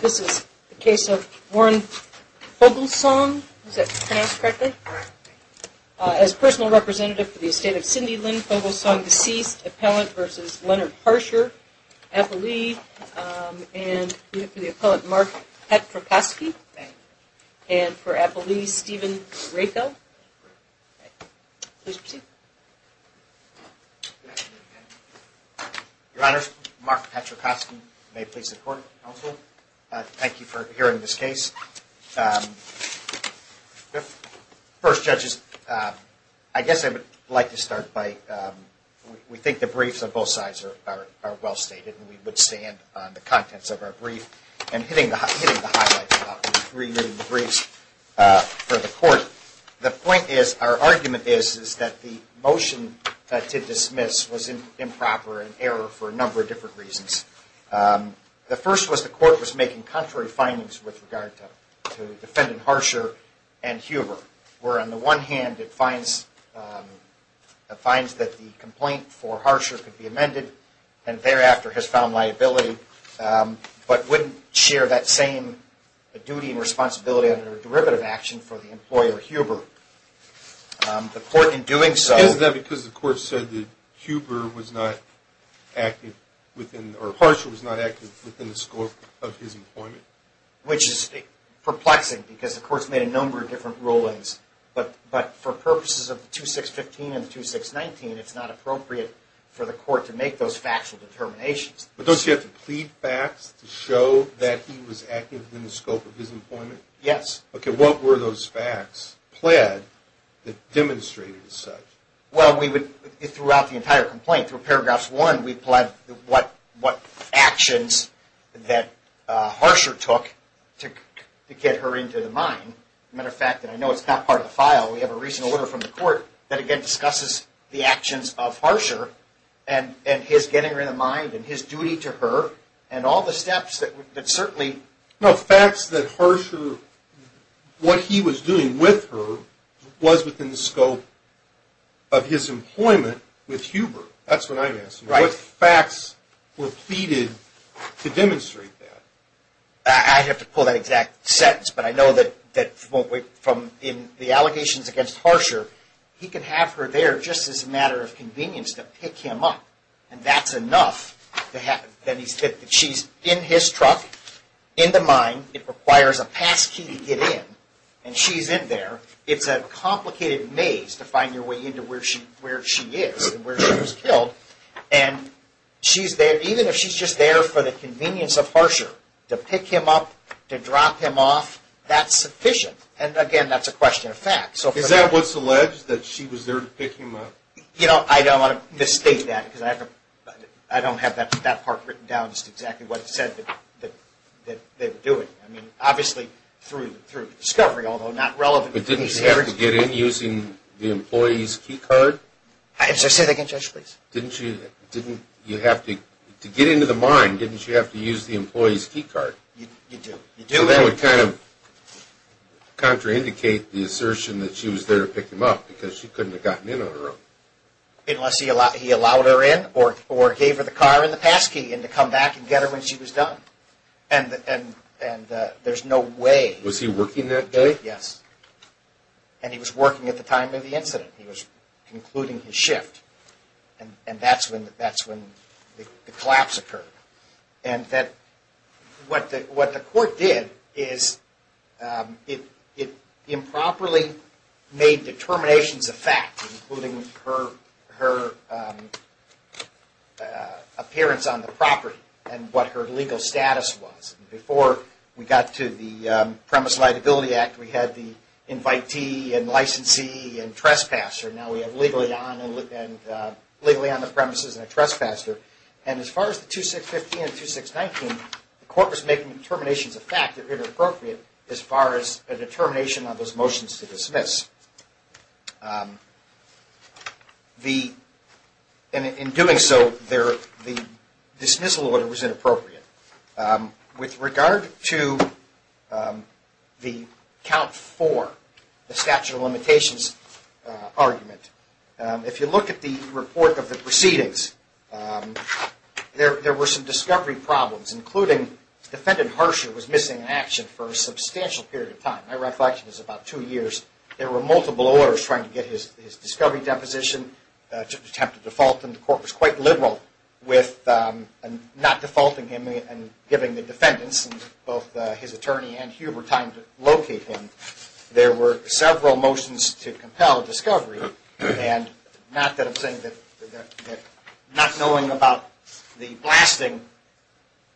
This is the case of Warren Foglesong. Is that pronounced correctly? As personal representative for the estate of Cindy Lynn Foglesong, deceased, Appellant v. Leonard Harsher, Appellee. And we have for the Appellant, Mark Petrocosky. And for Appellee, Stephen Rakow. Please proceed. Your Honor, Mark Petrocosky. May it please the Court, Counsel. Thank you for hearing this case. First, Judges, I guess I would like to start by, we think the briefs on both sides are well stated and we would stand on the contents of our brief. And hitting the highlights of the briefs for the Court, the point is, our argument is, is that the motion to dismiss was improper and error for a number of different reasons. The first was the Court was making contrary findings with regard to Defendant Harsher and Huber, where on the one hand it finds that the complaint for Harsher could be amended and thereafter has found liability, but wouldn't share that same duty and responsibility under derivative action for the employer Huber. The Court in doing so... Is that because the Court said that Huber was not active within, or Harsher was not active within the scope of his employment? Which is perplexing, because the Court's made a number of different rulings. But for purposes of the 2615 and the 2619, it's not appropriate for the Court to make those factual determinations. But don't you have to plead facts to show that he was active within the scope of his employment? Yes. Okay, what were those facts pled that demonstrated as such? Well, we would, throughout the entire complaint, through paragraphs one, we pled what actions that Harsher took to get her into the mine. As a matter of fact, and I know it's not part of the file, we have a recent order from the Court that again discusses the actions of Harsher and his getting her in the mine and his duty to her and all the steps that certainly... No, facts that Harsher, what he was doing with her, was within the scope of his employment with Huber. That's what I'm asking. Right. What facts were pleaded to demonstrate that? I'd have to pull that exact sentence, but I know that from the allegations against Harsher, he could have her there just as a matter of convenience to pick him up, and that's enough that she's in his truck, in the mine. It requires a passkey to get in, and she's in there. It's a complicated maze to find your way into where she is and where she was killed. And she's there, even if she's just there for the convenience of Harsher, to pick him up, to drop him off, that's sufficient. And again, that's a question of facts. Is that what's alleged, that she was there to pick him up? You know, I don't want to misstate that because I don't have that part written down as to exactly what's said that they were doing. I mean, obviously through discovery, although not relevant... But didn't she have to get in using the employee's key card? Say that again, Judge, please. Didn't she? To get into the mine, didn't she have to use the employee's key card? You do. That would kind of contraindicate the assertion that she was there to pick him up because she couldn't have gotten in on her own. Unless he allowed her in or gave her the car and the passkey and to come back and get her when she was done. And there's no way... Was he working that day? Yes. And he was working at the time of the incident. He was concluding his shift. And that's when the collapse occurred. And what the court did is it improperly made determinations of fact, including her appearance on the property and what her legal status was. Before we got to the Premise Liability Act, we had the invitee and licensee and trespasser. Now we have legally on the premises and a trespasser. And as far as the 2650 and the 2619, the court was making determinations of fact that were inappropriate as far as a determination on those motions to dismiss. In doing so, the dismissal order was inappropriate. With regard to the count four, the statute of limitations argument, if you look at the report of the proceedings, there were some discovery problems, including defendant Herscher was missing in action for a substantial period of time. My reflection is about two years. There were multiple orders trying to get his discovery deposition to attempt a default, and the court was quite liberal with not defaulting him and giving the defendants, both his attorney and Huber, time to locate him. There were several motions to compel discovery, and not that I'm saying that not knowing about the blasting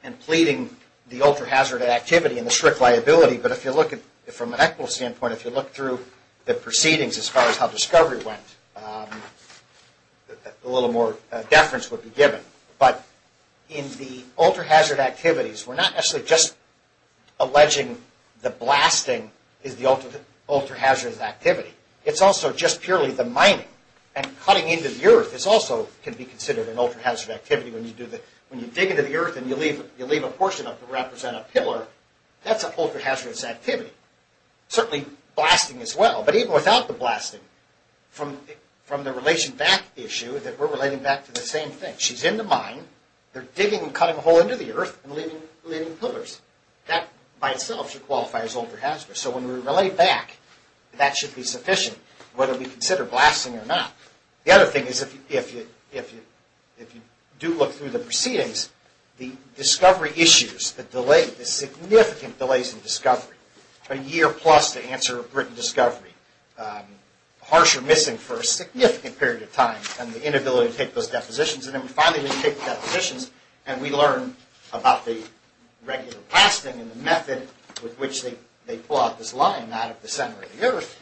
and pleading the ultra-hazard activity and the strict liability, but if you look at it from an equitable standpoint, if you look through the proceedings as far as how discovery went, a little more deference would be given. In the ultra-hazard activities, we're not actually just alleging the blasting is the ultra-hazard activity. It's also just purely the mining. Cutting into the earth can also be considered an ultra-hazard activity. When you dig into the earth and you leave a portion of it to represent a pillar, that's an ultra-hazardous activity. Certainly blasting as well, but even without the blasting, from the relation back issue, we're relating back to the same thing. She's in the mine, they're digging and cutting a hole into the earth and leaving pillars. That by itself should qualify as ultra-hazardous. So when we relate back, that should be sufficient, whether we consider blasting or not. The other thing is if you do look through the proceedings, the discovery issues, the delay, the significant delays in discovery, a year plus to answer a written discovery, harsh or missing for a significant period of time, and the inability to take those depositions, and then finally when you take the depositions and we learn about the regular blasting and the method with which they pull out this line out of the center of the earth,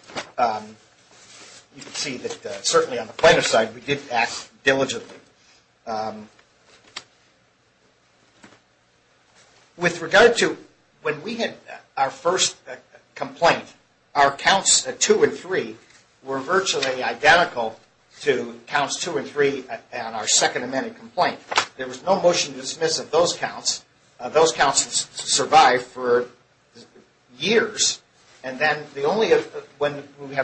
you can see that certainly on the plaintiff's side, we did act diligently. With regard to when we had our first complaint, our counts two and three were virtually identical to counts two and three on our Second Amendment complaint. There was no motion to dismiss of those counts. Those counts survived for years, and then when we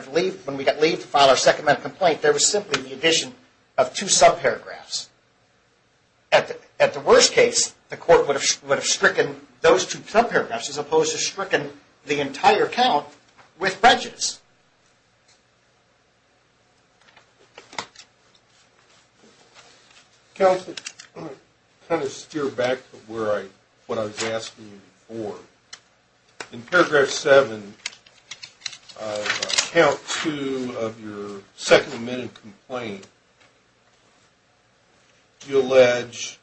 got leave to file our Second Amendment complaint, there was simply the addition of two sub-paragraphs. At the worst case, the court would have stricken those two sub-paragraphs as opposed to stricken the entire count with breaches. Counsel, kind of steer back to what I was asking you before. In paragraph seven of count two of your Second Amendment complaint, you allege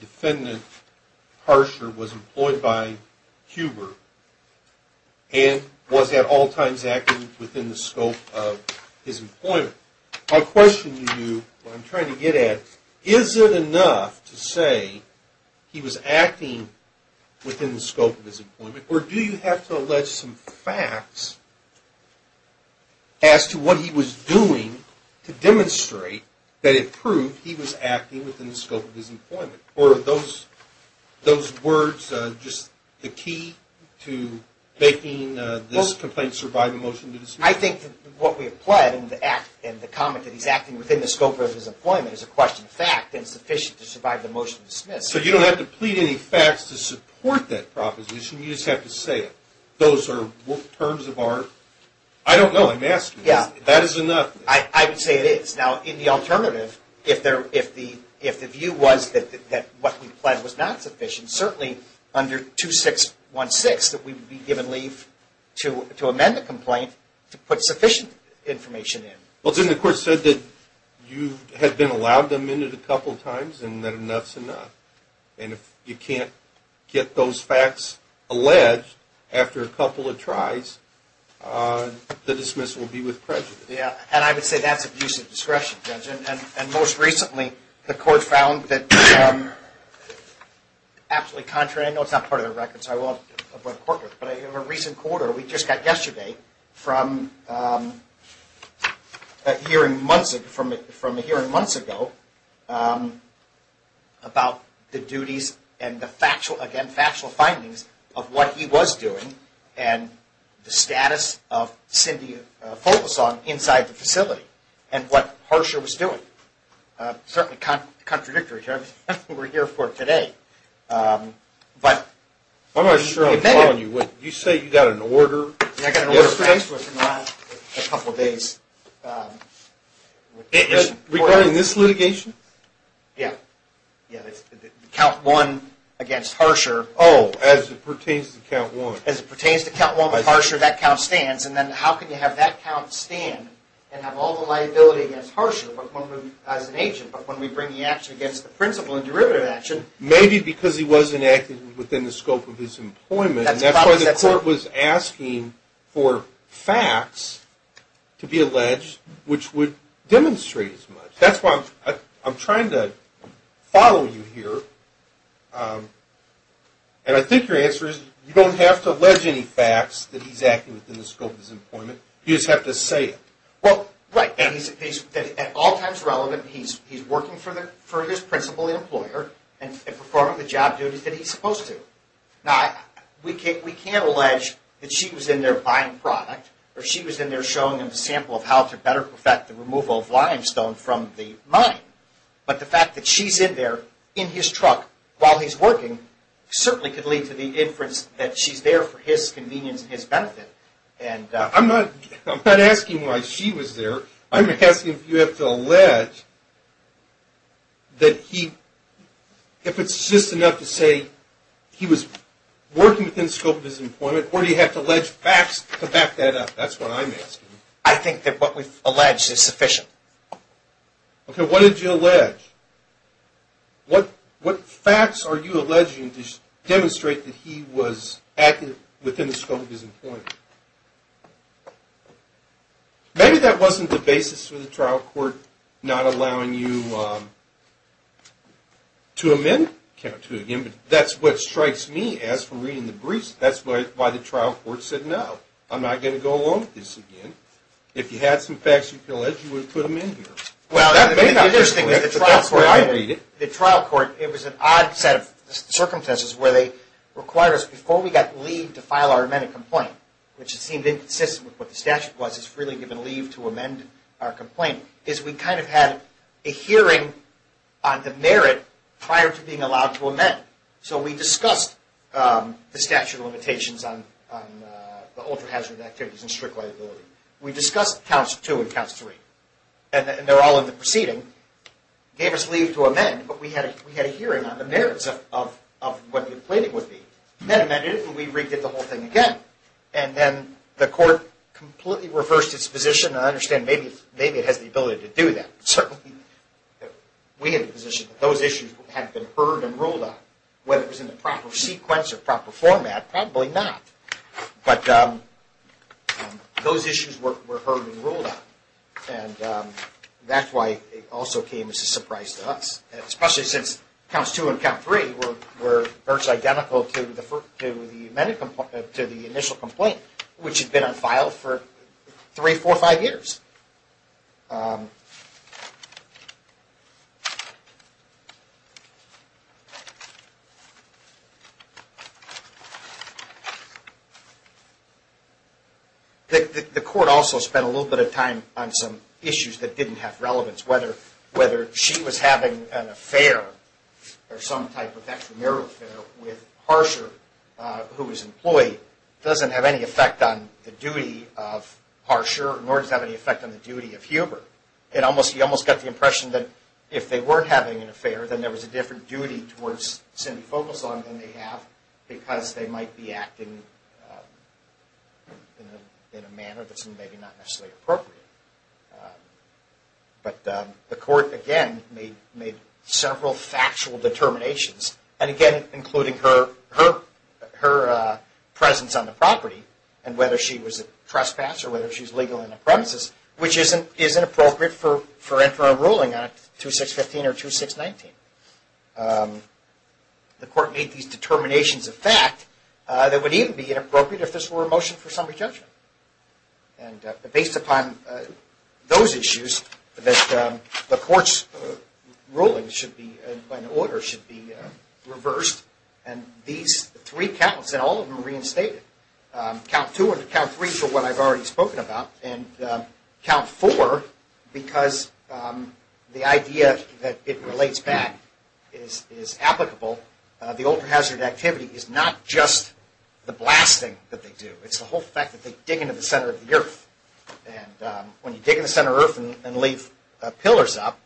defendant Harsher was employed by Huber and was at all times acting within the scope of his employment. My question to you, what I'm trying to get at, is it enough to say he was acting within the scope of his employment, or do you have to allege some facts as to what he was doing to demonstrate that it proved he was acting within the scope of his employment? Or are those words just the key to making this complaint survive a motion to dismiss? I think that what we have pled, and the comment that he's acting within the scope of his employment, is a question of fact and sufficient to survive the motion to dismiss. So you don't have to plead any facts to support that proposition, you just have to say it. Those are terms of art. I don't know, I'm asking you. That is enough. I would say it is. Now, in the alternative, if the view was that what we pled was not sufficient, certainly under 2616 that we would be given leave to amend the complaint to put sufficient information in. Well, then the court said that you had been allowed to amend it a couple of times and that enough's enough. And if you can't get those facts alleged after a couple of tries, the dismissal will be with prejudice. Yeah, and I would say that's abuse of discretion, Judge. And most recently the court found that, absolutely contrary, I know it's not part of the record so I won't report it, but in a recent quarter, we just got yesterday from a hearing months ago about the duties and, again, factual findings of what he was doing and the status of Cindy Folsom inside the facility and what Harsher was doing. Certainly contradictory to everything we're here for today. I'm not sure I'm following you. You say you got an order? Yeah, I got an order from Harsher within the last couple of days. Regarding this litigation? Yeah. Count one against Harsher. Oh, as it pertains to count one. As it pertains to count one with Harsher, that count stands. And then how can you have that count stand and have all the liability against Harsher as an agent, but when we bring the action against the principal and derivative action? Maybe because he wasn't acting within the scope of his employment. That's why the court was asking for facts to be alleged, which would demonstrate as much. That's why I'm trying to follow you here, and I think your answer is you don't have to allege any facts that he's acting within the scope of his employment. You just have to say it. Well, right, and he's at all times relevant. He's working for his principal employer and performing the job duties that he's supposed to. Now, we can't allege that she was in there buying product or she was in there showing him a sample of how to better perfect the removal of limestone from the mine, but the fact that she's in there in his truck while he's working certainly could lead to the inference that she's there for his convenience and his benefit. I'm not asking why she was there. I'm asking if you have to allege that he, if it's just enough to say he was working within the scope of his employment or do you have to allege facts to back that up? That's what I'm asking. I think that what we've alleged is sufficient. Okay, what did you allege? What facts are you alleging to demonstrate that he was acting within the scope of his employment? Maybe that wasn't the basis for the trial court not allowing you to amend. That's what strikes me as, from reading the briefs, that's why the trial court said no. I'm not going to go along with this again. If you had some facts you could allege, you would have put them in here. That may not be the case, but that's the way I read it. The trial court, it was an odd set of circumstances where they required us, before we got leave to file our amended complaint, which seemed inconsistent with what the statute was, it's really given leave to amend our complaint, is we kind of had a hearing on the merit prior to being allowed to amend. So we discussed the statute of limitations on the ultra-hazard activities and strict liability. We discussed counts two and counts three, and they're all in the proceeding. Gave us leave to amend, but we had a hearing on the merits of what the complainant would be. Then amended it, and we re-did the whole thing again. And then the court completely reversed its position, and I understand maybe it has the ability to do that. Certainly we had the position that those issues had been heard and ruled on. Whether it was in the proper sequence or proper format, probably not. But those issues were heard and ruled on. And that's why it also came as a surprise to us. Especially since counts two and count three were virtually identical to the initial complaint, which had been unfiled for three, four, five years. The court also spent a little bit of time on some issues that didn't have relevance. Whether she was having an affair or some type of extramarital affair with Harsher, who was employed, doesn't have any effect on the duty of Harsher, nor does it have any effect on the duty of Huber. You almost get the impression that if they were having an affair, then there was a different duty towards Cindy Fogelson than they have, because they might be acting in a manner that's maybe not necessarily appropriate. But the court, again, made several factual determinations. And again, including her presence on the property, and whether she was a trespasser, whether she was legal on the premises, which isn't appropriate for entering a ruling on Act 2615 or 2619. The court made these determinations of fact that would even be inappropriate if this were a motion for summary judgment. And based upon those issues, the court's ruling and order should be reversed. And these three counts, and all of them are reinstated, count two and count three for what I've already spoken about, and count four because the idea that it relates back is applicable. The ultra-hazard activity is not just the blasting that they do. It's the whole fact that they dig into the center of the earth. And when you dig in the center of the earth and leave pillars up,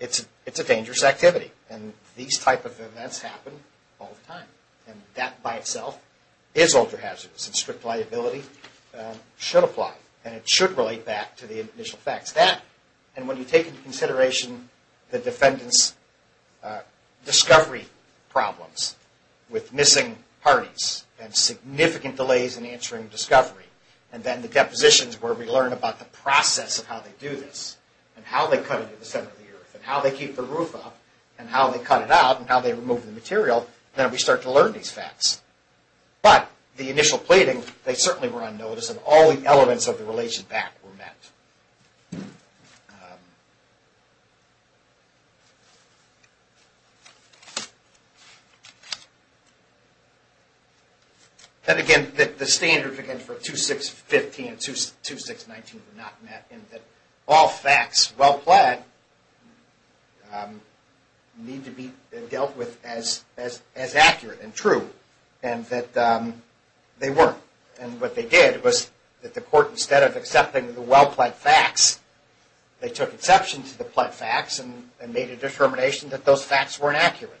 it's a dangerous activity. And these type of events happen all the time. And that by itself is ultra-hazardous, and strict liability should apply. And it should relate back to the initial facts. And when you take into consideration the defendant's discovery problems with missing parties and significant delays in answering discovery, and then the depositions where we learn about the process of how they do this, and how they cut into the center of the earth, and how they keep the roof up, and how they cut it out, and how they remove the material, then we start to learn these facts. But the initial plating, they certainly were unnoticed, and all the elements of the relation back were met. And again, the standards for 2-6-15 and 2-6-19 were not met, and that all facts well-plagued need to be dealt with as accurate and true, and that they weren't. And what they did was that the court, instead of accepting the well-plagued facts, they took exception to the plagued facts and made a determination that those facts weren't accurate.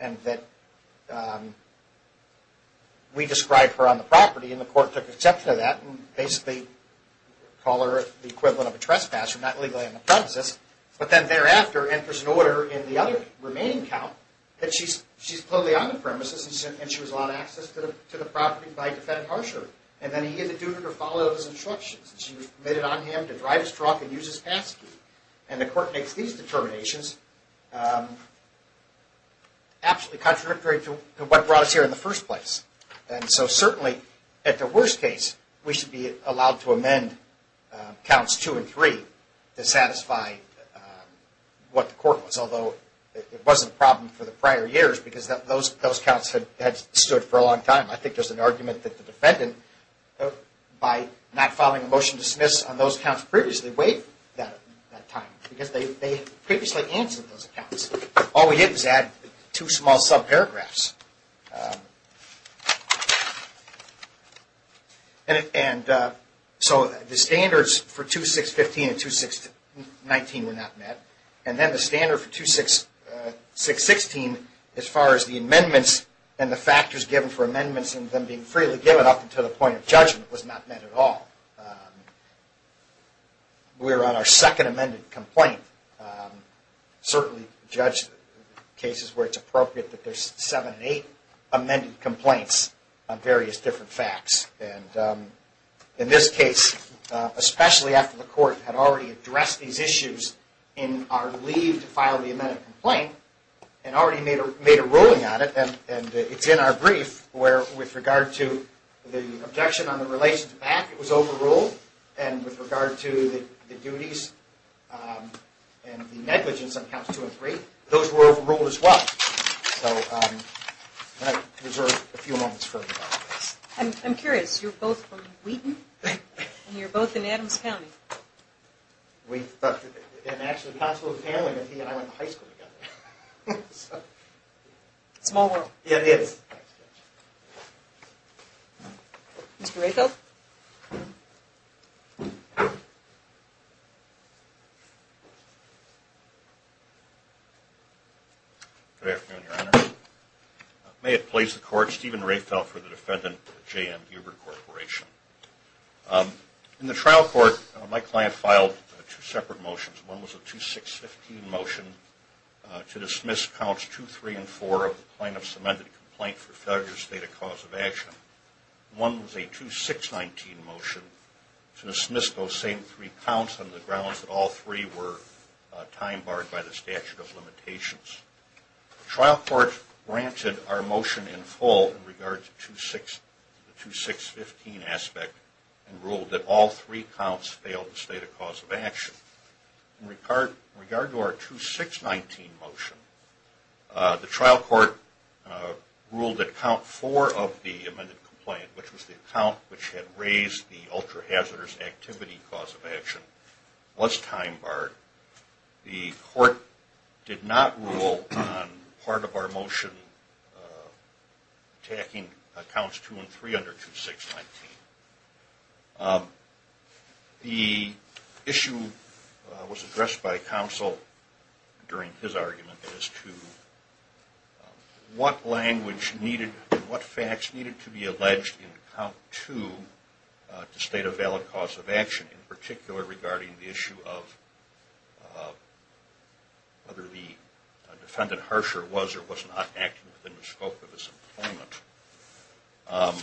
And that we described her on the property, and the court took exception to that, and basically called her the equivalent of a trespasser, not legally on the premises. But then thereafter enters an order in the other remaining count that she's clearly on the premises, and she was allowed access to the property by defendant Harsher. And then he had to do her to follow those instructions. She was committed on him to drive his truck and use his passkey. And the court makes these determinations absolutely contradictory to what brought us here in the first place. And so certainly, at the worst case, we should be allowed to amend counts 2 and 3 to satisfy what the court was, although it wasn't a problem for the prior years because those counts had stood for a long time. I think there's an argument that the defendant, by not following a motion to dismiss on those counts previously, waived that time because they previously answered those accounts. All we did was add two small sub-paragraphs. So the standards for 2-6-15 and 2-6-19 were not met, and then the standard for 2-6-16, as far as the amendments and the factors given for amendments and them being freely given up until the point of judgment, was not met at all. We were on our second amended complaint. Certainly judge cases where it's appropriate that there's 7 and 8 amended complaints on various different facts. In this case, especially after the court had already addressed these issues in our leave to file the amended complaint, and already made a ruling on it, and it's in our brief where, with regard to the objection on the relations back, it was overruled, and with regard to the duties, and the negligence on counts 2 and 3, those were overruled as well. I'm curious, you're both from Wheaton, and you're both in Adams County. Small world. Good afternoon, Your Honor. May it please the court, Stephen Rayfeld for the defendant, J.M. Huber Corporation. In the trial court, my client filed two separate motions. One was a 2-6-15 motion to dismiss counts 2, 3, and 4 of the plaintiff's amended complaint for failure to state a cause of action. We dismissed those same three counts on the grounds that all three were time barred by the statute of limitations. The trial court granted our motion in full in regard to the 2-6-15 aspect, and ruled that all three counts failed to state a cause of action. In regard to our 2-6-19 motion, the trial court ruled that count 4 of the amended complaint, which was the count which had raised the ultra-hazardous activity cause of action, was time barred. The court did not rule on part of our motion attacking counts 2 and 3 under 2-6-19. The issue was addressed by counsel during his argument as to what language needed and what facts needed to be alleged in count 2 to state a valid cause of action, in particular regarding the issue of whether the defendant, Harsher, was or was not acting within the scope of his employment.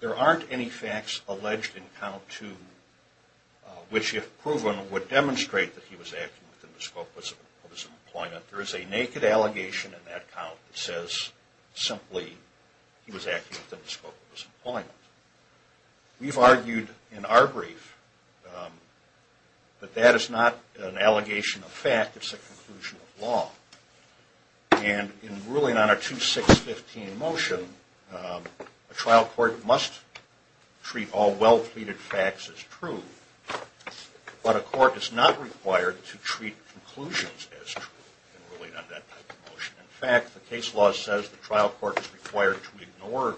There aren't any facts alleged in count 2 which, if proven, would demonstrate that he was acting within the scope of his employment. There is a naked allegation in that count that says, simply, he was acting within the scope of his employment. We've argued in our brief that that is not an allegation of fact, it's a conclusion of law. And in ruling on our 2-6-15 motion, a trial court must treat all well-pleaded facts as true, but a court is not required to treat conclusions as true in ruling on that type of motion. In fact, the case law says the trial court is required to ignore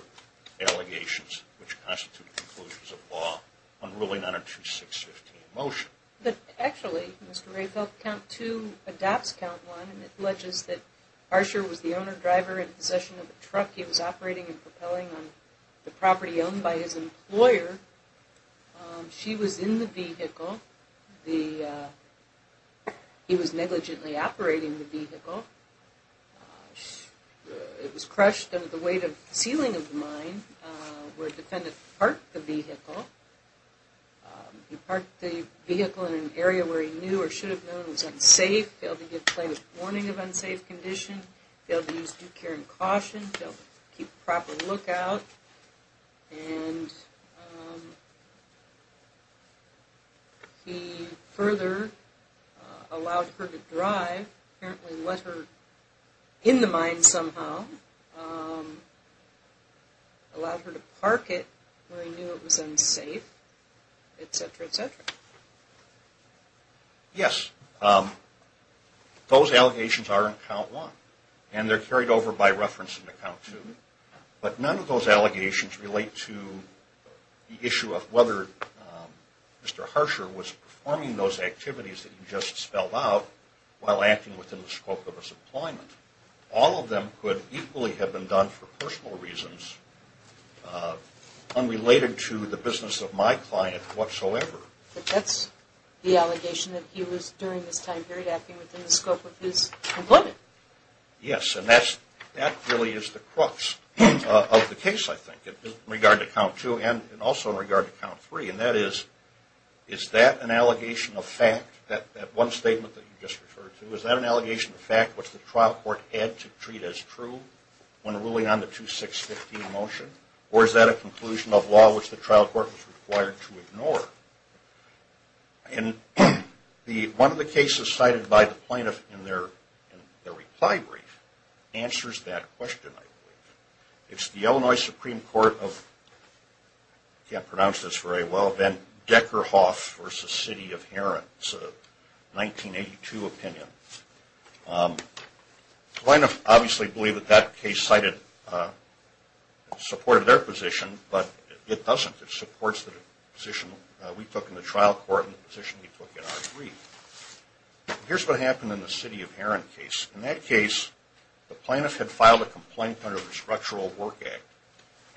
allegations which constitute conclusions of law in ruling on a 2-6-15 motion. But actually, Mr. Rafel, count 2 adopts count 1, and it alleges that Harsher was the owner-driver in possession of a truck. He was operating and propelling on the property owned by his employer. She was in the vehicle. He was negligently operating the vehicle. It was crushed under the weight of the ceiling of the mine where a defendant parked the vehicle. He parked the vehicle in an area where he knew or should have known was unsafe. Failed to give plaintiff warning of unsafe condition. Failed to use due care and caution. Failed to keep proper lookout. And he further allowed her to drive, apparently let her in the mine somehow. Allowed her to park it where he knew it was unsafe, etc., etc. Yes, those allegations are in count 1, and they're carried over by reference to count 2. But none of those allegations relate to the issue of whether Mr. Harsher was performing those activities that you just spelled out while acting within the scope of his employment. All of them could equally have been done for personal reasons, unrelated to the business of my client whatsoever. But that's the allegation that he was, during this time period, acting within the scope of his employment. Yes, and that really is the crux of the case, I think, in regard to count 2 and also in regard to count 3. And that is, is that an allegation of fact, that one statement that you just referred to, is that an allegation of fact which the trial court had to treat as true when ruling on the 2615 motion? Or is that a conclusion of law which the trial court was required to ignore? And one of the cases cited by the plaintiff in their reply brief answers that question, I believe. It's the Illinois Supreme Court of, I can't pronounce this very well, Deckerhoff v. City of Heron. It's a 1982 opinion. The plaintiff obviously believed that that case cited, supported their position, but it doesn't. It supports the position we took in the trial court and the position we took in our brief. Here's what happened in the City of Heron case. In that case, the plaintiff had filed a complaint under the Structural Work Act.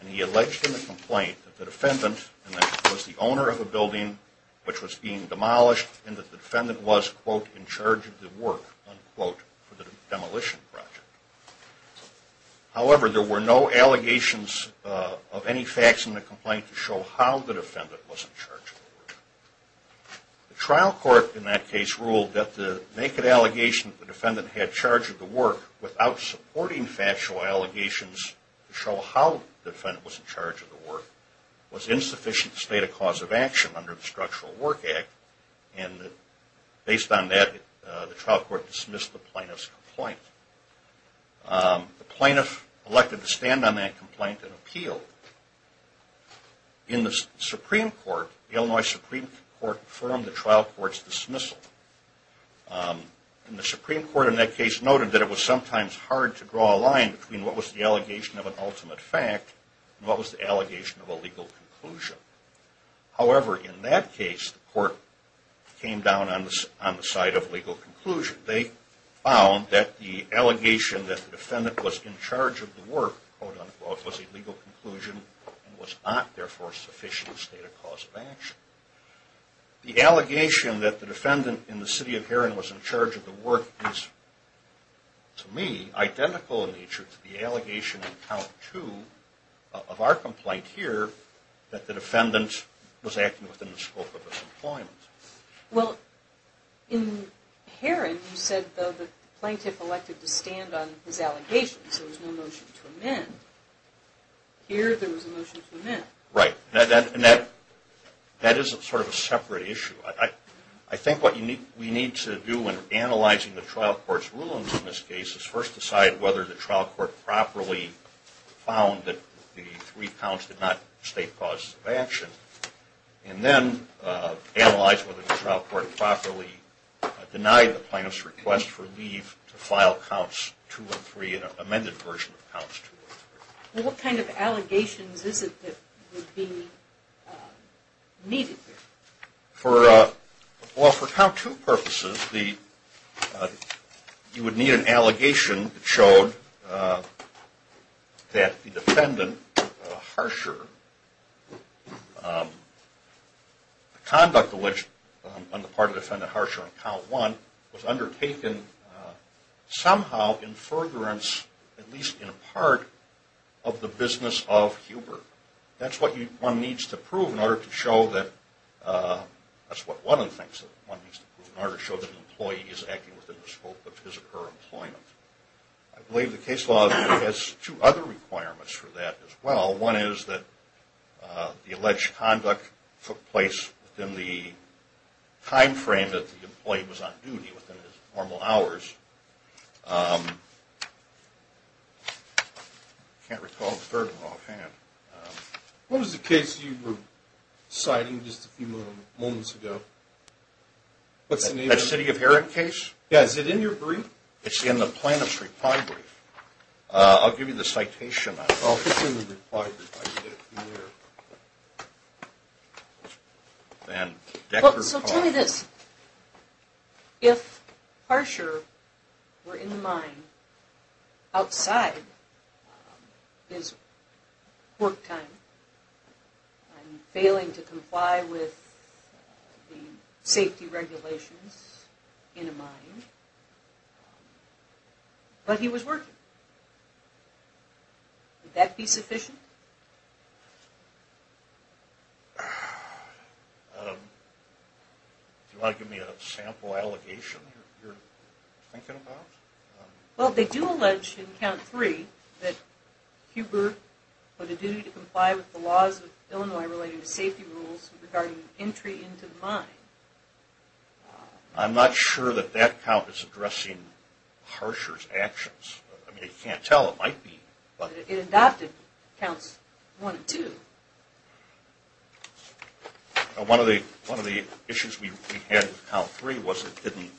And he alleged in the complaint that the defendant, and that he was the owner of a building which was being demolished, and that the defendant was, quote, in charge of the work, unquote, for the demolition project. However, there were no allegations of any facts in the complaint to show how the defendant was in charge of the work. The trial court in that case ruled that the naked allegation that the defendant had charge of the work without supporting factual allegations to show how the defendant was in charge of the work was insufficient to state a cause of action under the Structural Work Act. And based on that, the trial court dismissed the plaintiff's complaint. The plaintiff elected to stand on that complaint and appealed. In the Supreme Court, the Illinois Supreme Court confirmed the trial court's dismissal. And the Supreme Court in that case noted that it was sometimes hard to draw a line between what was the allegation of an ultimate fact and what was the allegation of a legal conclusion. However, in that case, the court came down on the side of legal conclusion. They found that the allegation that the defendant was in charge of the work, quote, unquote, was a legal conclusion and was not, therefore, sufficient to state a cause of action. The allegation that the defendant in the city of Heron was in charge of the work is, to me, identical in nature to the allegation in count two of our complaint here that the defendant was acting within the scope of his employment. Well, in Heron, you said the plaintiff elected to stand on his allegations. There was no motion to amend. Here, there was a motion to amend. Right. And that is sort of a separate issue. I think what we need to do in analyzing the trial court's rulings in this case is first decide whether the trial court properly found that the three counts did not state causes of action. And then analyze whether the trial court properly denied the plaintiff's request for leave to file counts two and three, an amended version of counts two and three. Well, what kind of allegations is it that would be needed here? Well, for count two purposes, you would need an allegation that showed that the conduct alleged on the part of defendant Harsher on count one was undertaken somehow in furtherance, at least in part, of the business of Hubert. That's what one needs to prove in order to show that an employee is acting within the scope of his or her employment. I believe the case law has two other requirements for that as well. One is that the alleged conduct took place within the time frame that the employee was on duty, within his normal hours. I can't recall the third one offhand. What was the case you were citing just a few moments ago? What's the name of it? The City of Heron case? Yeah, is it in your brief? It's in the plaintiff's reply brief. I'll give you the citation on it. Oh, it's in the reply brief. So tell me this. If Harsher were in the mine outside his work time and failing to comply with the safety regulations in a mine, but he was working, would that be sufficient? Do you want to give me a sample allegation you're thinking about? Well, they do allege in count three that Huber put a duty to comply with the laws of Illinois relating to safety rules regarding entry into the mine. I'm not sure that that count is addressing Harsher's actions. I mean, you can't tell. It might be. It adopted counts one and two. One of the issues we had in count three was it didn't,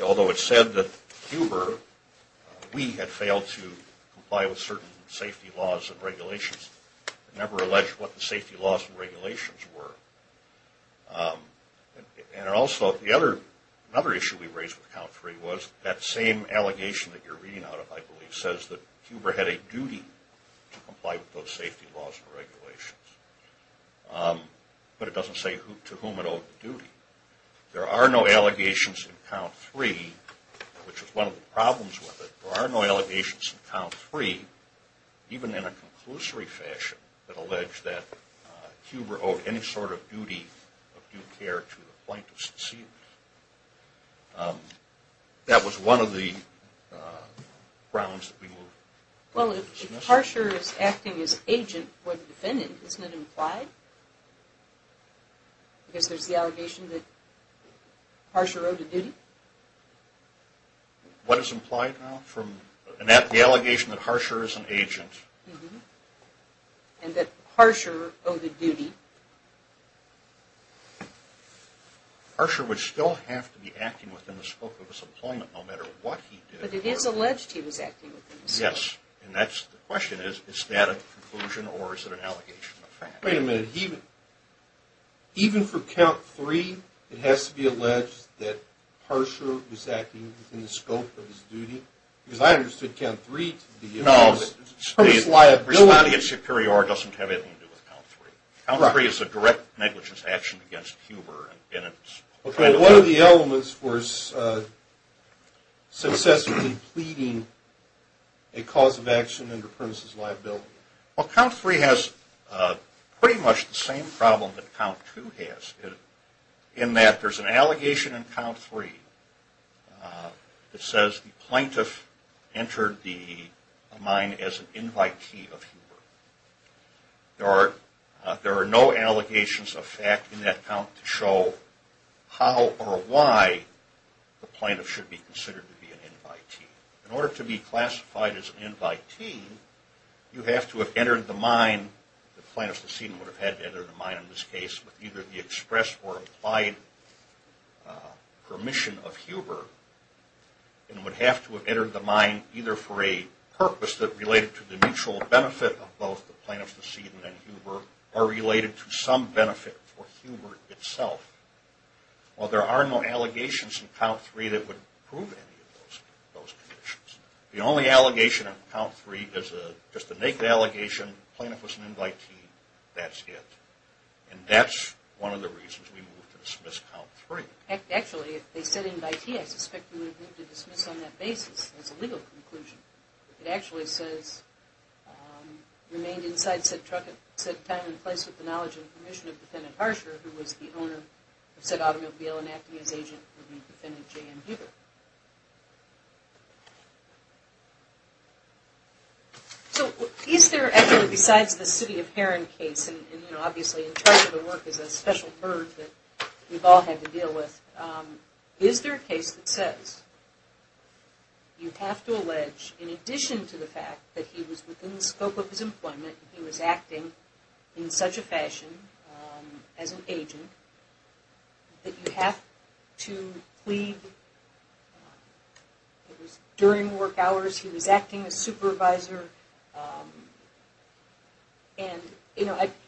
although it said that Huber, we had failed to comply with certain safety laws and regulations, it never alleged what the safety laws and regulations were. And also another issue we raised with count three was that same allegation that you're reading out of, I believe, says that Huber had a duty to comply with those safety laws and regulations. But it doesn't say to whom it owed the duty. There are no allegations in count three, which is one of the problems with it. There are no allegations in count three, even in a conclusory fashion, that allege that Huber owed any sort of duty of due care to the plaintiff's deceit. That was one of the grounds that we moved. Well, if Harsher is acting as agent for the defendant, isn't it implied? Because there's the allegation that Harsher owed a duty? What is implied now? The allegation that Harsher is an agent. And that Harsher owed a duty. Harsher would still have to be acting within the scope of his employment, no matter what he did. But it is alleged he was acting within the scope. Yes. And the question is, is that a conclusion or is it an allegation? Wait a minute. Even for count three, it has to be alleged that Harsher was acting within the scope of his duty? Because I understood count three to be a premise of liability. Responding in superior doesn't have anything to do with count three. Count three is a direct negligence action against Huber. Okay. What are the elements for successively pleading a cause of action under premises of liability? Well, count three has pretty much the same problem that count two has, in that there's an allegation in count three that says the plaintiff entered the mine as an invitee of Huber. There are no allegations of fact in that count to show how or why the plaintiff should be considered to be an invitee. In order to be classified as an invitee, you have to have entered the mine, the plaintiff's decedent would have had to enter the mine in this case, with either the express or applied permission of Huber, and would have to have entered the mine either for a purpose that related to the mutual benefit of both the plaintiff's decedent and Huber, or related to some benefit for Huber itself. Well, there are no allegations in count three that would prove any of those conditions. The only allegation in count three is just a naked allegation, the plaintiff was an invitee, that's it. And that's one of the reasons we moved to dismiss count three. Actually, if they said invitee, I suspect you would have moved to dismiss on that basis as a legal conclusion. It actually says, remained inside said truck at said time and place with the knowledge and permission of said automobile and acting as agent would be defendant J.M. Huber. So, is there actually, besides the City of Heron case, and obviously in charge of the work is a special bird that we've all had to deal with, is there a case that says you have to allege, in addition to the fact that he was within the scope of his employment, he was acting in such a fashion as an agent, that you have to plead, it was during work hours, he was acting as supervisor, and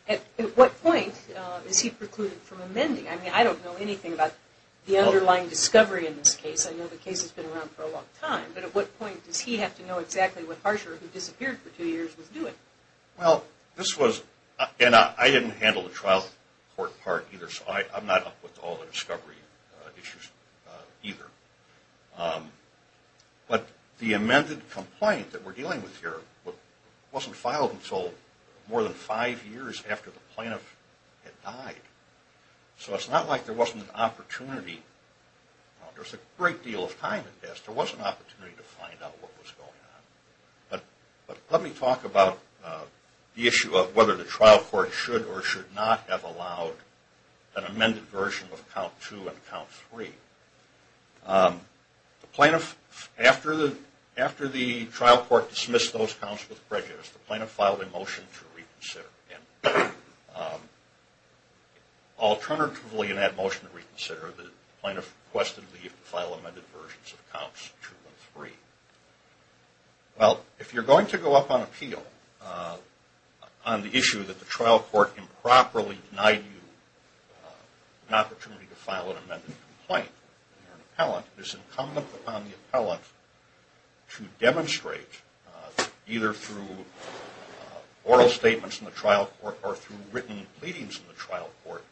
at what point is he precluded from amending? I mean, I don't know anything about the underlying discovery in this case. I know the case has been around for a long time. But at what point does he have to know exactly what Harsher, who disappeared for two years, was doing? Well, this was, and I didn't handle the trial court part either, so I'm not up with all the discovery issues either. But the amended complaint that we're dealing with here wasn't filed until more than five years after the plaintiff had died. So it's not like there wasn't an opportunity, there was a great deal of time in this, there was an opportunity to find out what was going on. But let me talk about the issue of whether the trial court should or should not have allowed an amended version of Count 2 and Count 3. After the trial court dismissed those counts with prejudice, the plaintiff filed a motion to reconsider. Alternatively, in that motion to reconsider, the plaintiff requested leave to file amended versions of Counts 2 and 3. Well, if you're going to go up on appeal on the issue that the trial court improperly denied you an opportunity to file an amended complaint, and you're an appellant, it is incumbent upon the appellant to demonstrate, either through oral statements in the trial court or through written pleadings in the trial court,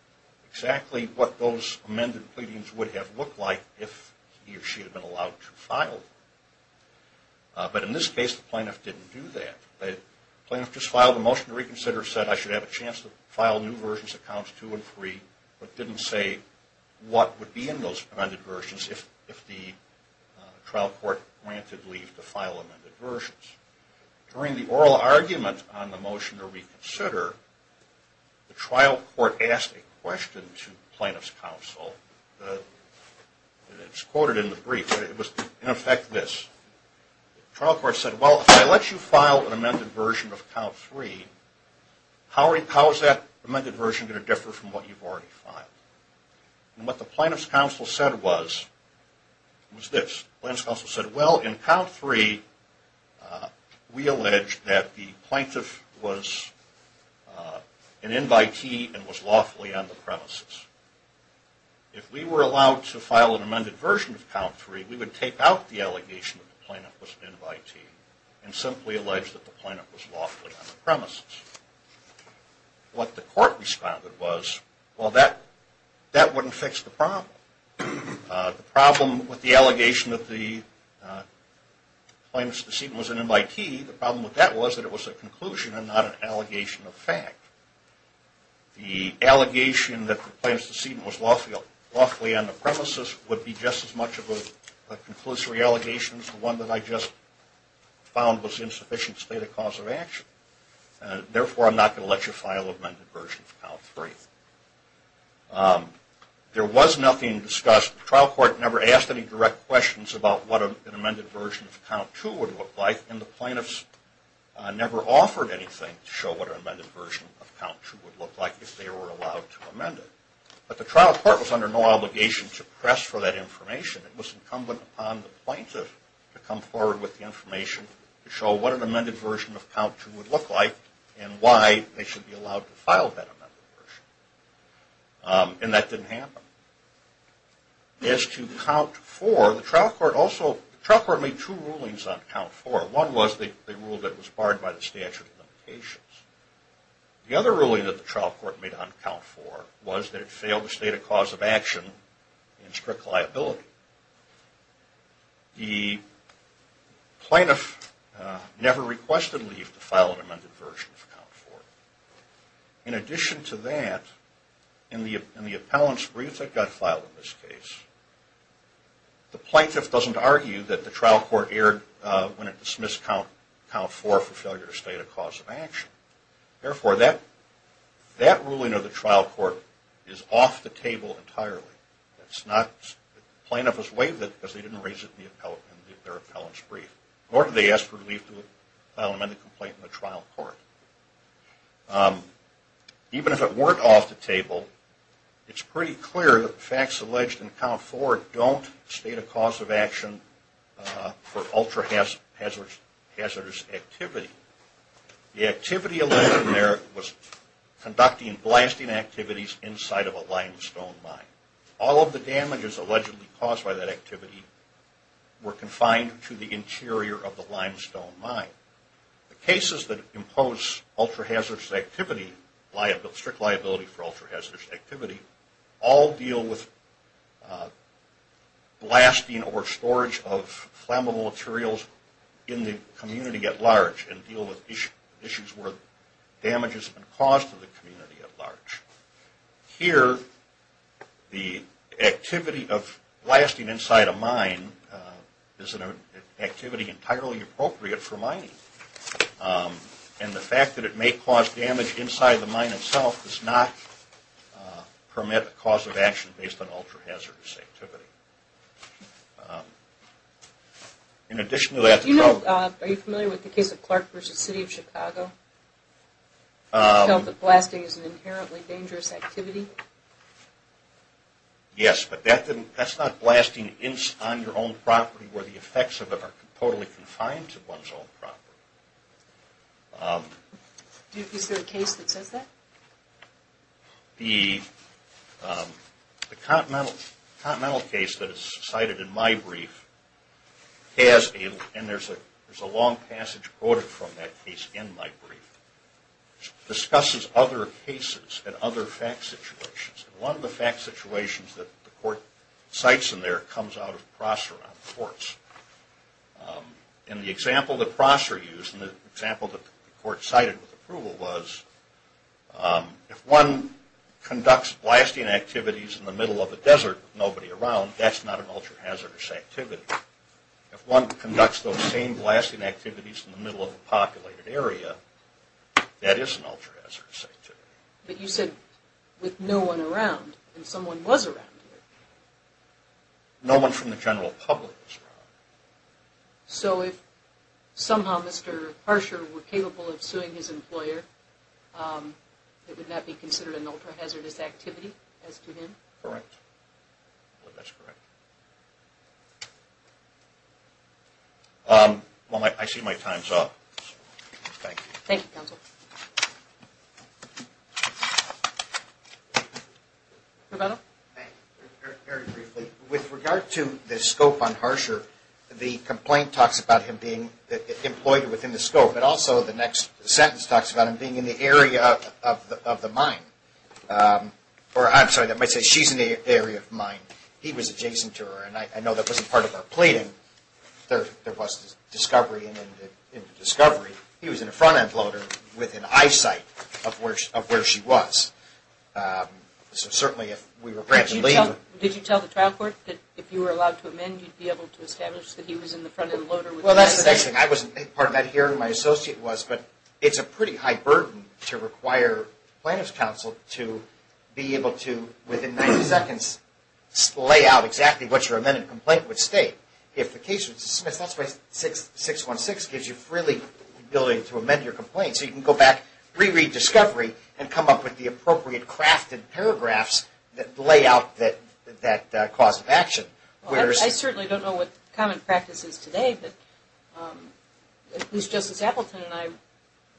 exactly what those amended pleadings would have looked like if he or she had been allowed to file them. But in this case, the plaintiff didn't do that. The plaintiff just filed a motion to reconsider, said I should have a chance to file new versions of Counts 2 and 3, but didn't say what would be in those amended versions if the trial court granted leave to file amended versions. During the oral argument on the motion to reconsider, the trial court asked a question to the plaintiff's counsel. It's quoted in the brief, but it was in effect this. The trial court said, well, if I let you file an amended version of Count 3, how is that amended version going to differ from what you've already filed? What the plaintiff's counsel said was this. The plaintiff's counsel said, well, in Count 3, we allege that the plaintiff was an invitee and was lawfully on the premises. If we were allowed to file an amended version of Count 3, we would take out the allegation that the plaintiff was an invitee, and simply allege that the plaintiff was lawfully on the premises. What the court responded was, well, that wouldn't fix the problem. The problem with the allegation that the plaintiff's deceit was an invitee, the problem with that was that it was a conclusion and not an allegation of fact. The allegation that the plaintiff's deceit was lawfully on the premises would be just as much of a conclusory allegation as the one that I just found was insufficient to state a cause of action. Therefore, I'm not going to let you file an amended version of Count 3. There was nothing discussed. The trial court never asked any direct questions about what an amended version of Count 2 would look like, and the plaintiffs never offered anything to show what an amended version of Count 2 would look like if they were allowed to amend it. But the trial court was under no obligation to press for that information. It was incumbent upon the plaintiff to come forward with the information to show what an amended version of Count 2 would look like and why they should be allowed to file that amended version. And that didn't happen. As to Count 4, the trial court made two rulings on Count 4. One was the rule that it was barred by the statute of limitations. The other ruling that the trial court made on Count 4 was that it failed to state a cause of action in strict liability. The plaintiff never requested leave to file an amended version of Count 4. In addition to that, in the appellant's brief that got filed in this case, the plaintiff doesn't argue that the trial court erred when it dismissed Count 4 for failure to state a cause of action. Therefore, that ruling of the trial court is off the table entirely. The plaintiff was waived it because they didn't raise it in their appellant's brief. Nor did they ask for leave to file an amended complaint in the trial court. Even if it weren't off the table, it's pretty clear that the facts alleged in Count 4 don't state a cause of action for ultra-hazardous activity. The activity alleged in there was conducting blasting activities inside of a limestone mine. All of the damages allegedly caused by that activity were confined to the interior of the limestone mine. The cases that impose ultra-hazardous activity, strict liability for ultra-hazardous activity, all deal with blasting or storage of flammable materials in the community at large and deal with issues where damage has been caused to the community at large. Here, the activity of blasting inside a mine is an activity entirely appropriate for mining. And the fact that it may cause damage inside the mine itself does not permit a cause of action based on ultra-hazardous activity. In addition to that... Yes, but that's not blasting on your own property where the effects of it are totally confined to one's own property. Is there a case that says that? The Continental case that is cited in my brief has, and there's a long passage quoted from that case in my brief, discusses other cases and other fact situations. One of the fact situations that the court cites in there comes out of Prosser on the courts. And the example that Prosser used, and the example that the court cited with approval was, if one conducts blasting activities in the middle of a desert with nobody around, that's not an ultra-hazardous activity. If one conducts those same blasting activities in the middle of a populated area, that is an ultra-hazardous activity. But you said with no one around, and someone was around here. No one from the general public was around. So if somehow Mr. Parsher were capable of suing his employer, it would not be considered an ultra-hazardous activity as to him? Correct. Well, I see my time's up. Very briefly, with regard to the scope on Parsher, the complaint talks about him being employed within the scope, but also the next sentence talks about him being in the area of the mine. Or I'm sorry, that might say she's in the area of the mine. He was adjacent to her, and I know that wasn't part of her pleading. There was discovery, and in the discovery, he was in a front-end loader with an eyesight of where she was. Did you tell the trial court that if you were allowed to amend, you'd be able to establish that he was in the front-end loader with an eyesight? Well, that's the next thing. Part of that hearing my associate was, but it's a pretty high burden to require plaintiff's counsel to be able to, within 90 seconds, lay out exactly what your amended complaint would state. If the case was dismissed, that's why 616 gives you the ability to amend your complaint. So you can go back, re-read discovery, and come up with the appropriate crafted paragraphs that lay out that cause of action. I certainly don't know what common practice is today, but at least Justice Appleton and I,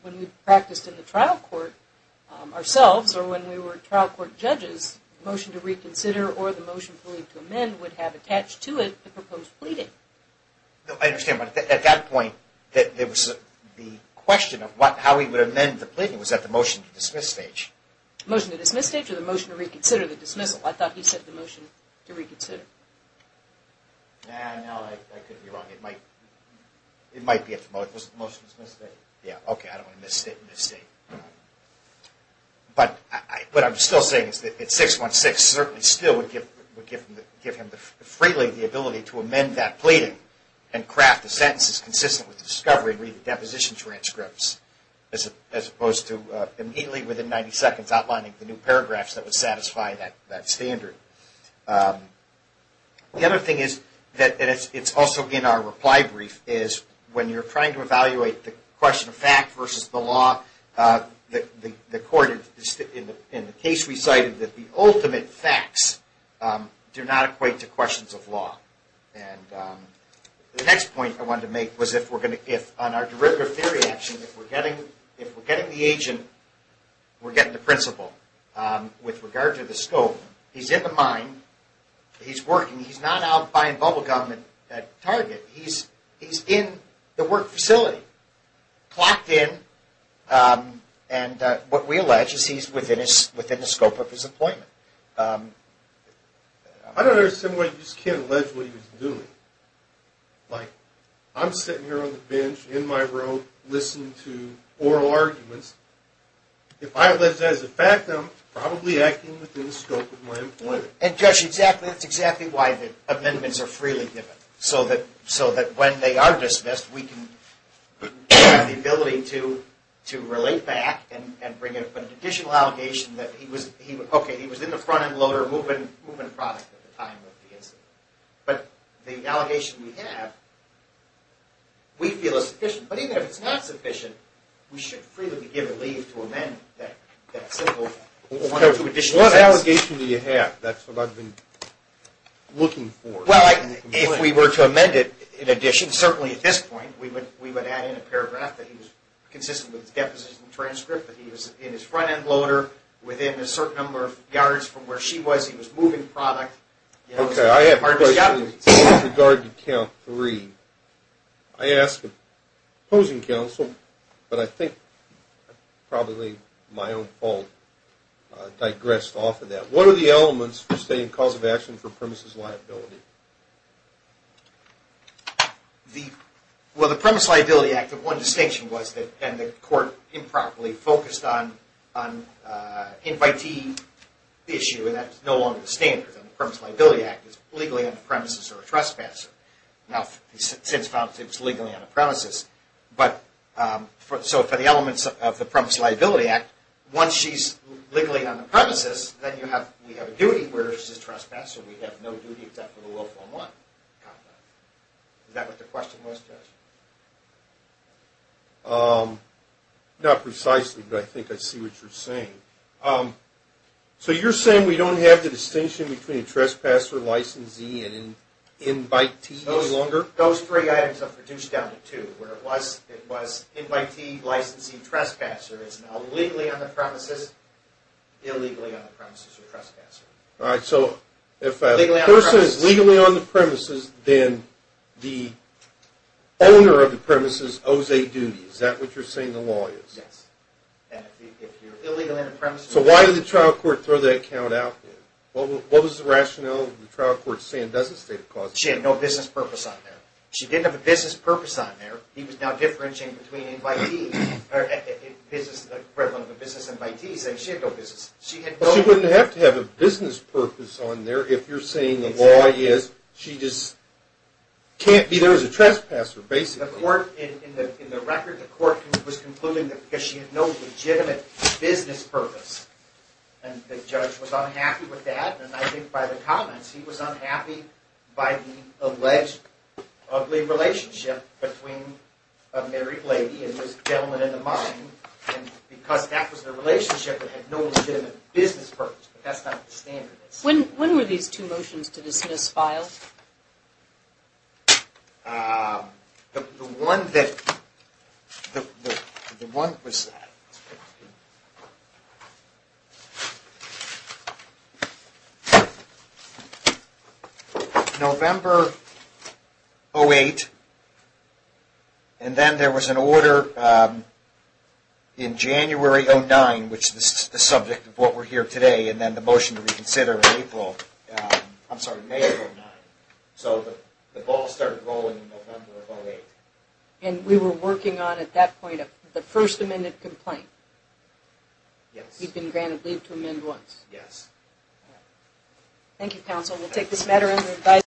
when we practiced in the trial court ourselves, or when we were trial court judges, the motion to reconsider or the motion to amend would have attached to it the proposed pleading. I understand, but at that point, there was the question of how he would amend the pleading. Was that the motion to dismiss stage? Motion to dismiss stage or the motion to reconsider the dismissal? I thought he said the motion to reconsider. No, I could be wrong. It might be at the motion to dismiss stage. Okay, I don't want to misstate. What I'm still saying is that 616 certainly still would give him freely the ability to amend that pleading and craft the sentences consistent with discovery and re-read the deposition transcripts, as opposed to immediately, within 90 seconds, outlining the new paragraphs that would satisfy that standard. The other thing is, and it's also in our reply brief, is when you're trying to evaluate the question of fact versus the law, the court, in the case we cited, that the ultimate facts do not equate to questions of law. The next point I wanted to make was if on our derivative theory action, if we're getting the agent, we're getting the principal, with regard to the scope, he's in the mine, he's working, he's not out buying bubble gum at Target, he's in the work facility, clocked in, and what we allege is he's within the scope of his employment. I don't understand why you just can't allege what he was doing. I'm sitting here on the bench, in my room, listening to oral arguments. If I allege that as a fact, I'm probably acting within the scope of my employment. And, Josh, that's exactly why the amendments are freely given, so that when they are dismissed, we can have the ability to relate back and bring up an additional allegation that he was in the front-end loader as a movement product at the time of the incident. But the allegation we have, we feel is sufficient. But even if it's not sufficient, we should freely be given leave to amend that simple one or two additional sentences. What allegation do you have? That's what I've been looking for. Well, if we were to amend it in addition, certainly at this point, we would add in a paragraph that he was consistent with his deposition transcript, that he was in his front-end loader, within a certain number of yards from where she was, he was a moving product. Okay, I have a question with regard to count three. I asked the opposing counsel, but I think probably my own fault digressed off of that. What are the elements for stating cause of action for premises liability? Well, the premise liability act, one distinction was that the court improperly focused on an invitee issue, and that's no longer the standard. The premise liability act is legally on the premises or a trespasser. So for the elements of the premise liability act, once she's legally on the premises, then we have a duty where she's a trespasser. We have no duty except for the willful and want conduct. Is that what the question was, Judge? Not precisely, but I think I see what you're saying. So you're saying we don't have the distinction between a trespasser, licensee, and invitee any longer? Those three items are reduced down to two, where it was invitee, licensee, and trespasser. It's now legally on the premises, illegally on the premises, or trespasser. Alright, so if a person is legally on the premises, then the owner of the premises owes a duty. Is that what you're saying the law is? Yes. And if you're illegally on the premises... So why did the trial court throw that count out there? What was the rationale of the trial court saying it doesn't state a cause of action? She had no business purpose on there. She didn't have a business purpose on there. He was now differentiating between business and invitee. She wouldn't have to have a business purpose on there if you're saying the law is she just can't be there as a trespasser, basically. In the record, the court was concluding that she had no legitimate business purpose. And the judge was unhappy with that, and I think by the comments, he was unhappy by the alleged ugly relationship between a married lady and this gentleman in the mine, and because that was the relationship that had no legitimate business purpose. But that's not the standard. When were these two motions to dismiss filed? The one that the one that was November 08, and then there was an order in January 09, which is the subject of what we're here today, and then the motion to reconsider in April, I'm sorry, May 09. So the ball started rolling in November 08. And we were working on, at that point, the first amended complaint? Yes.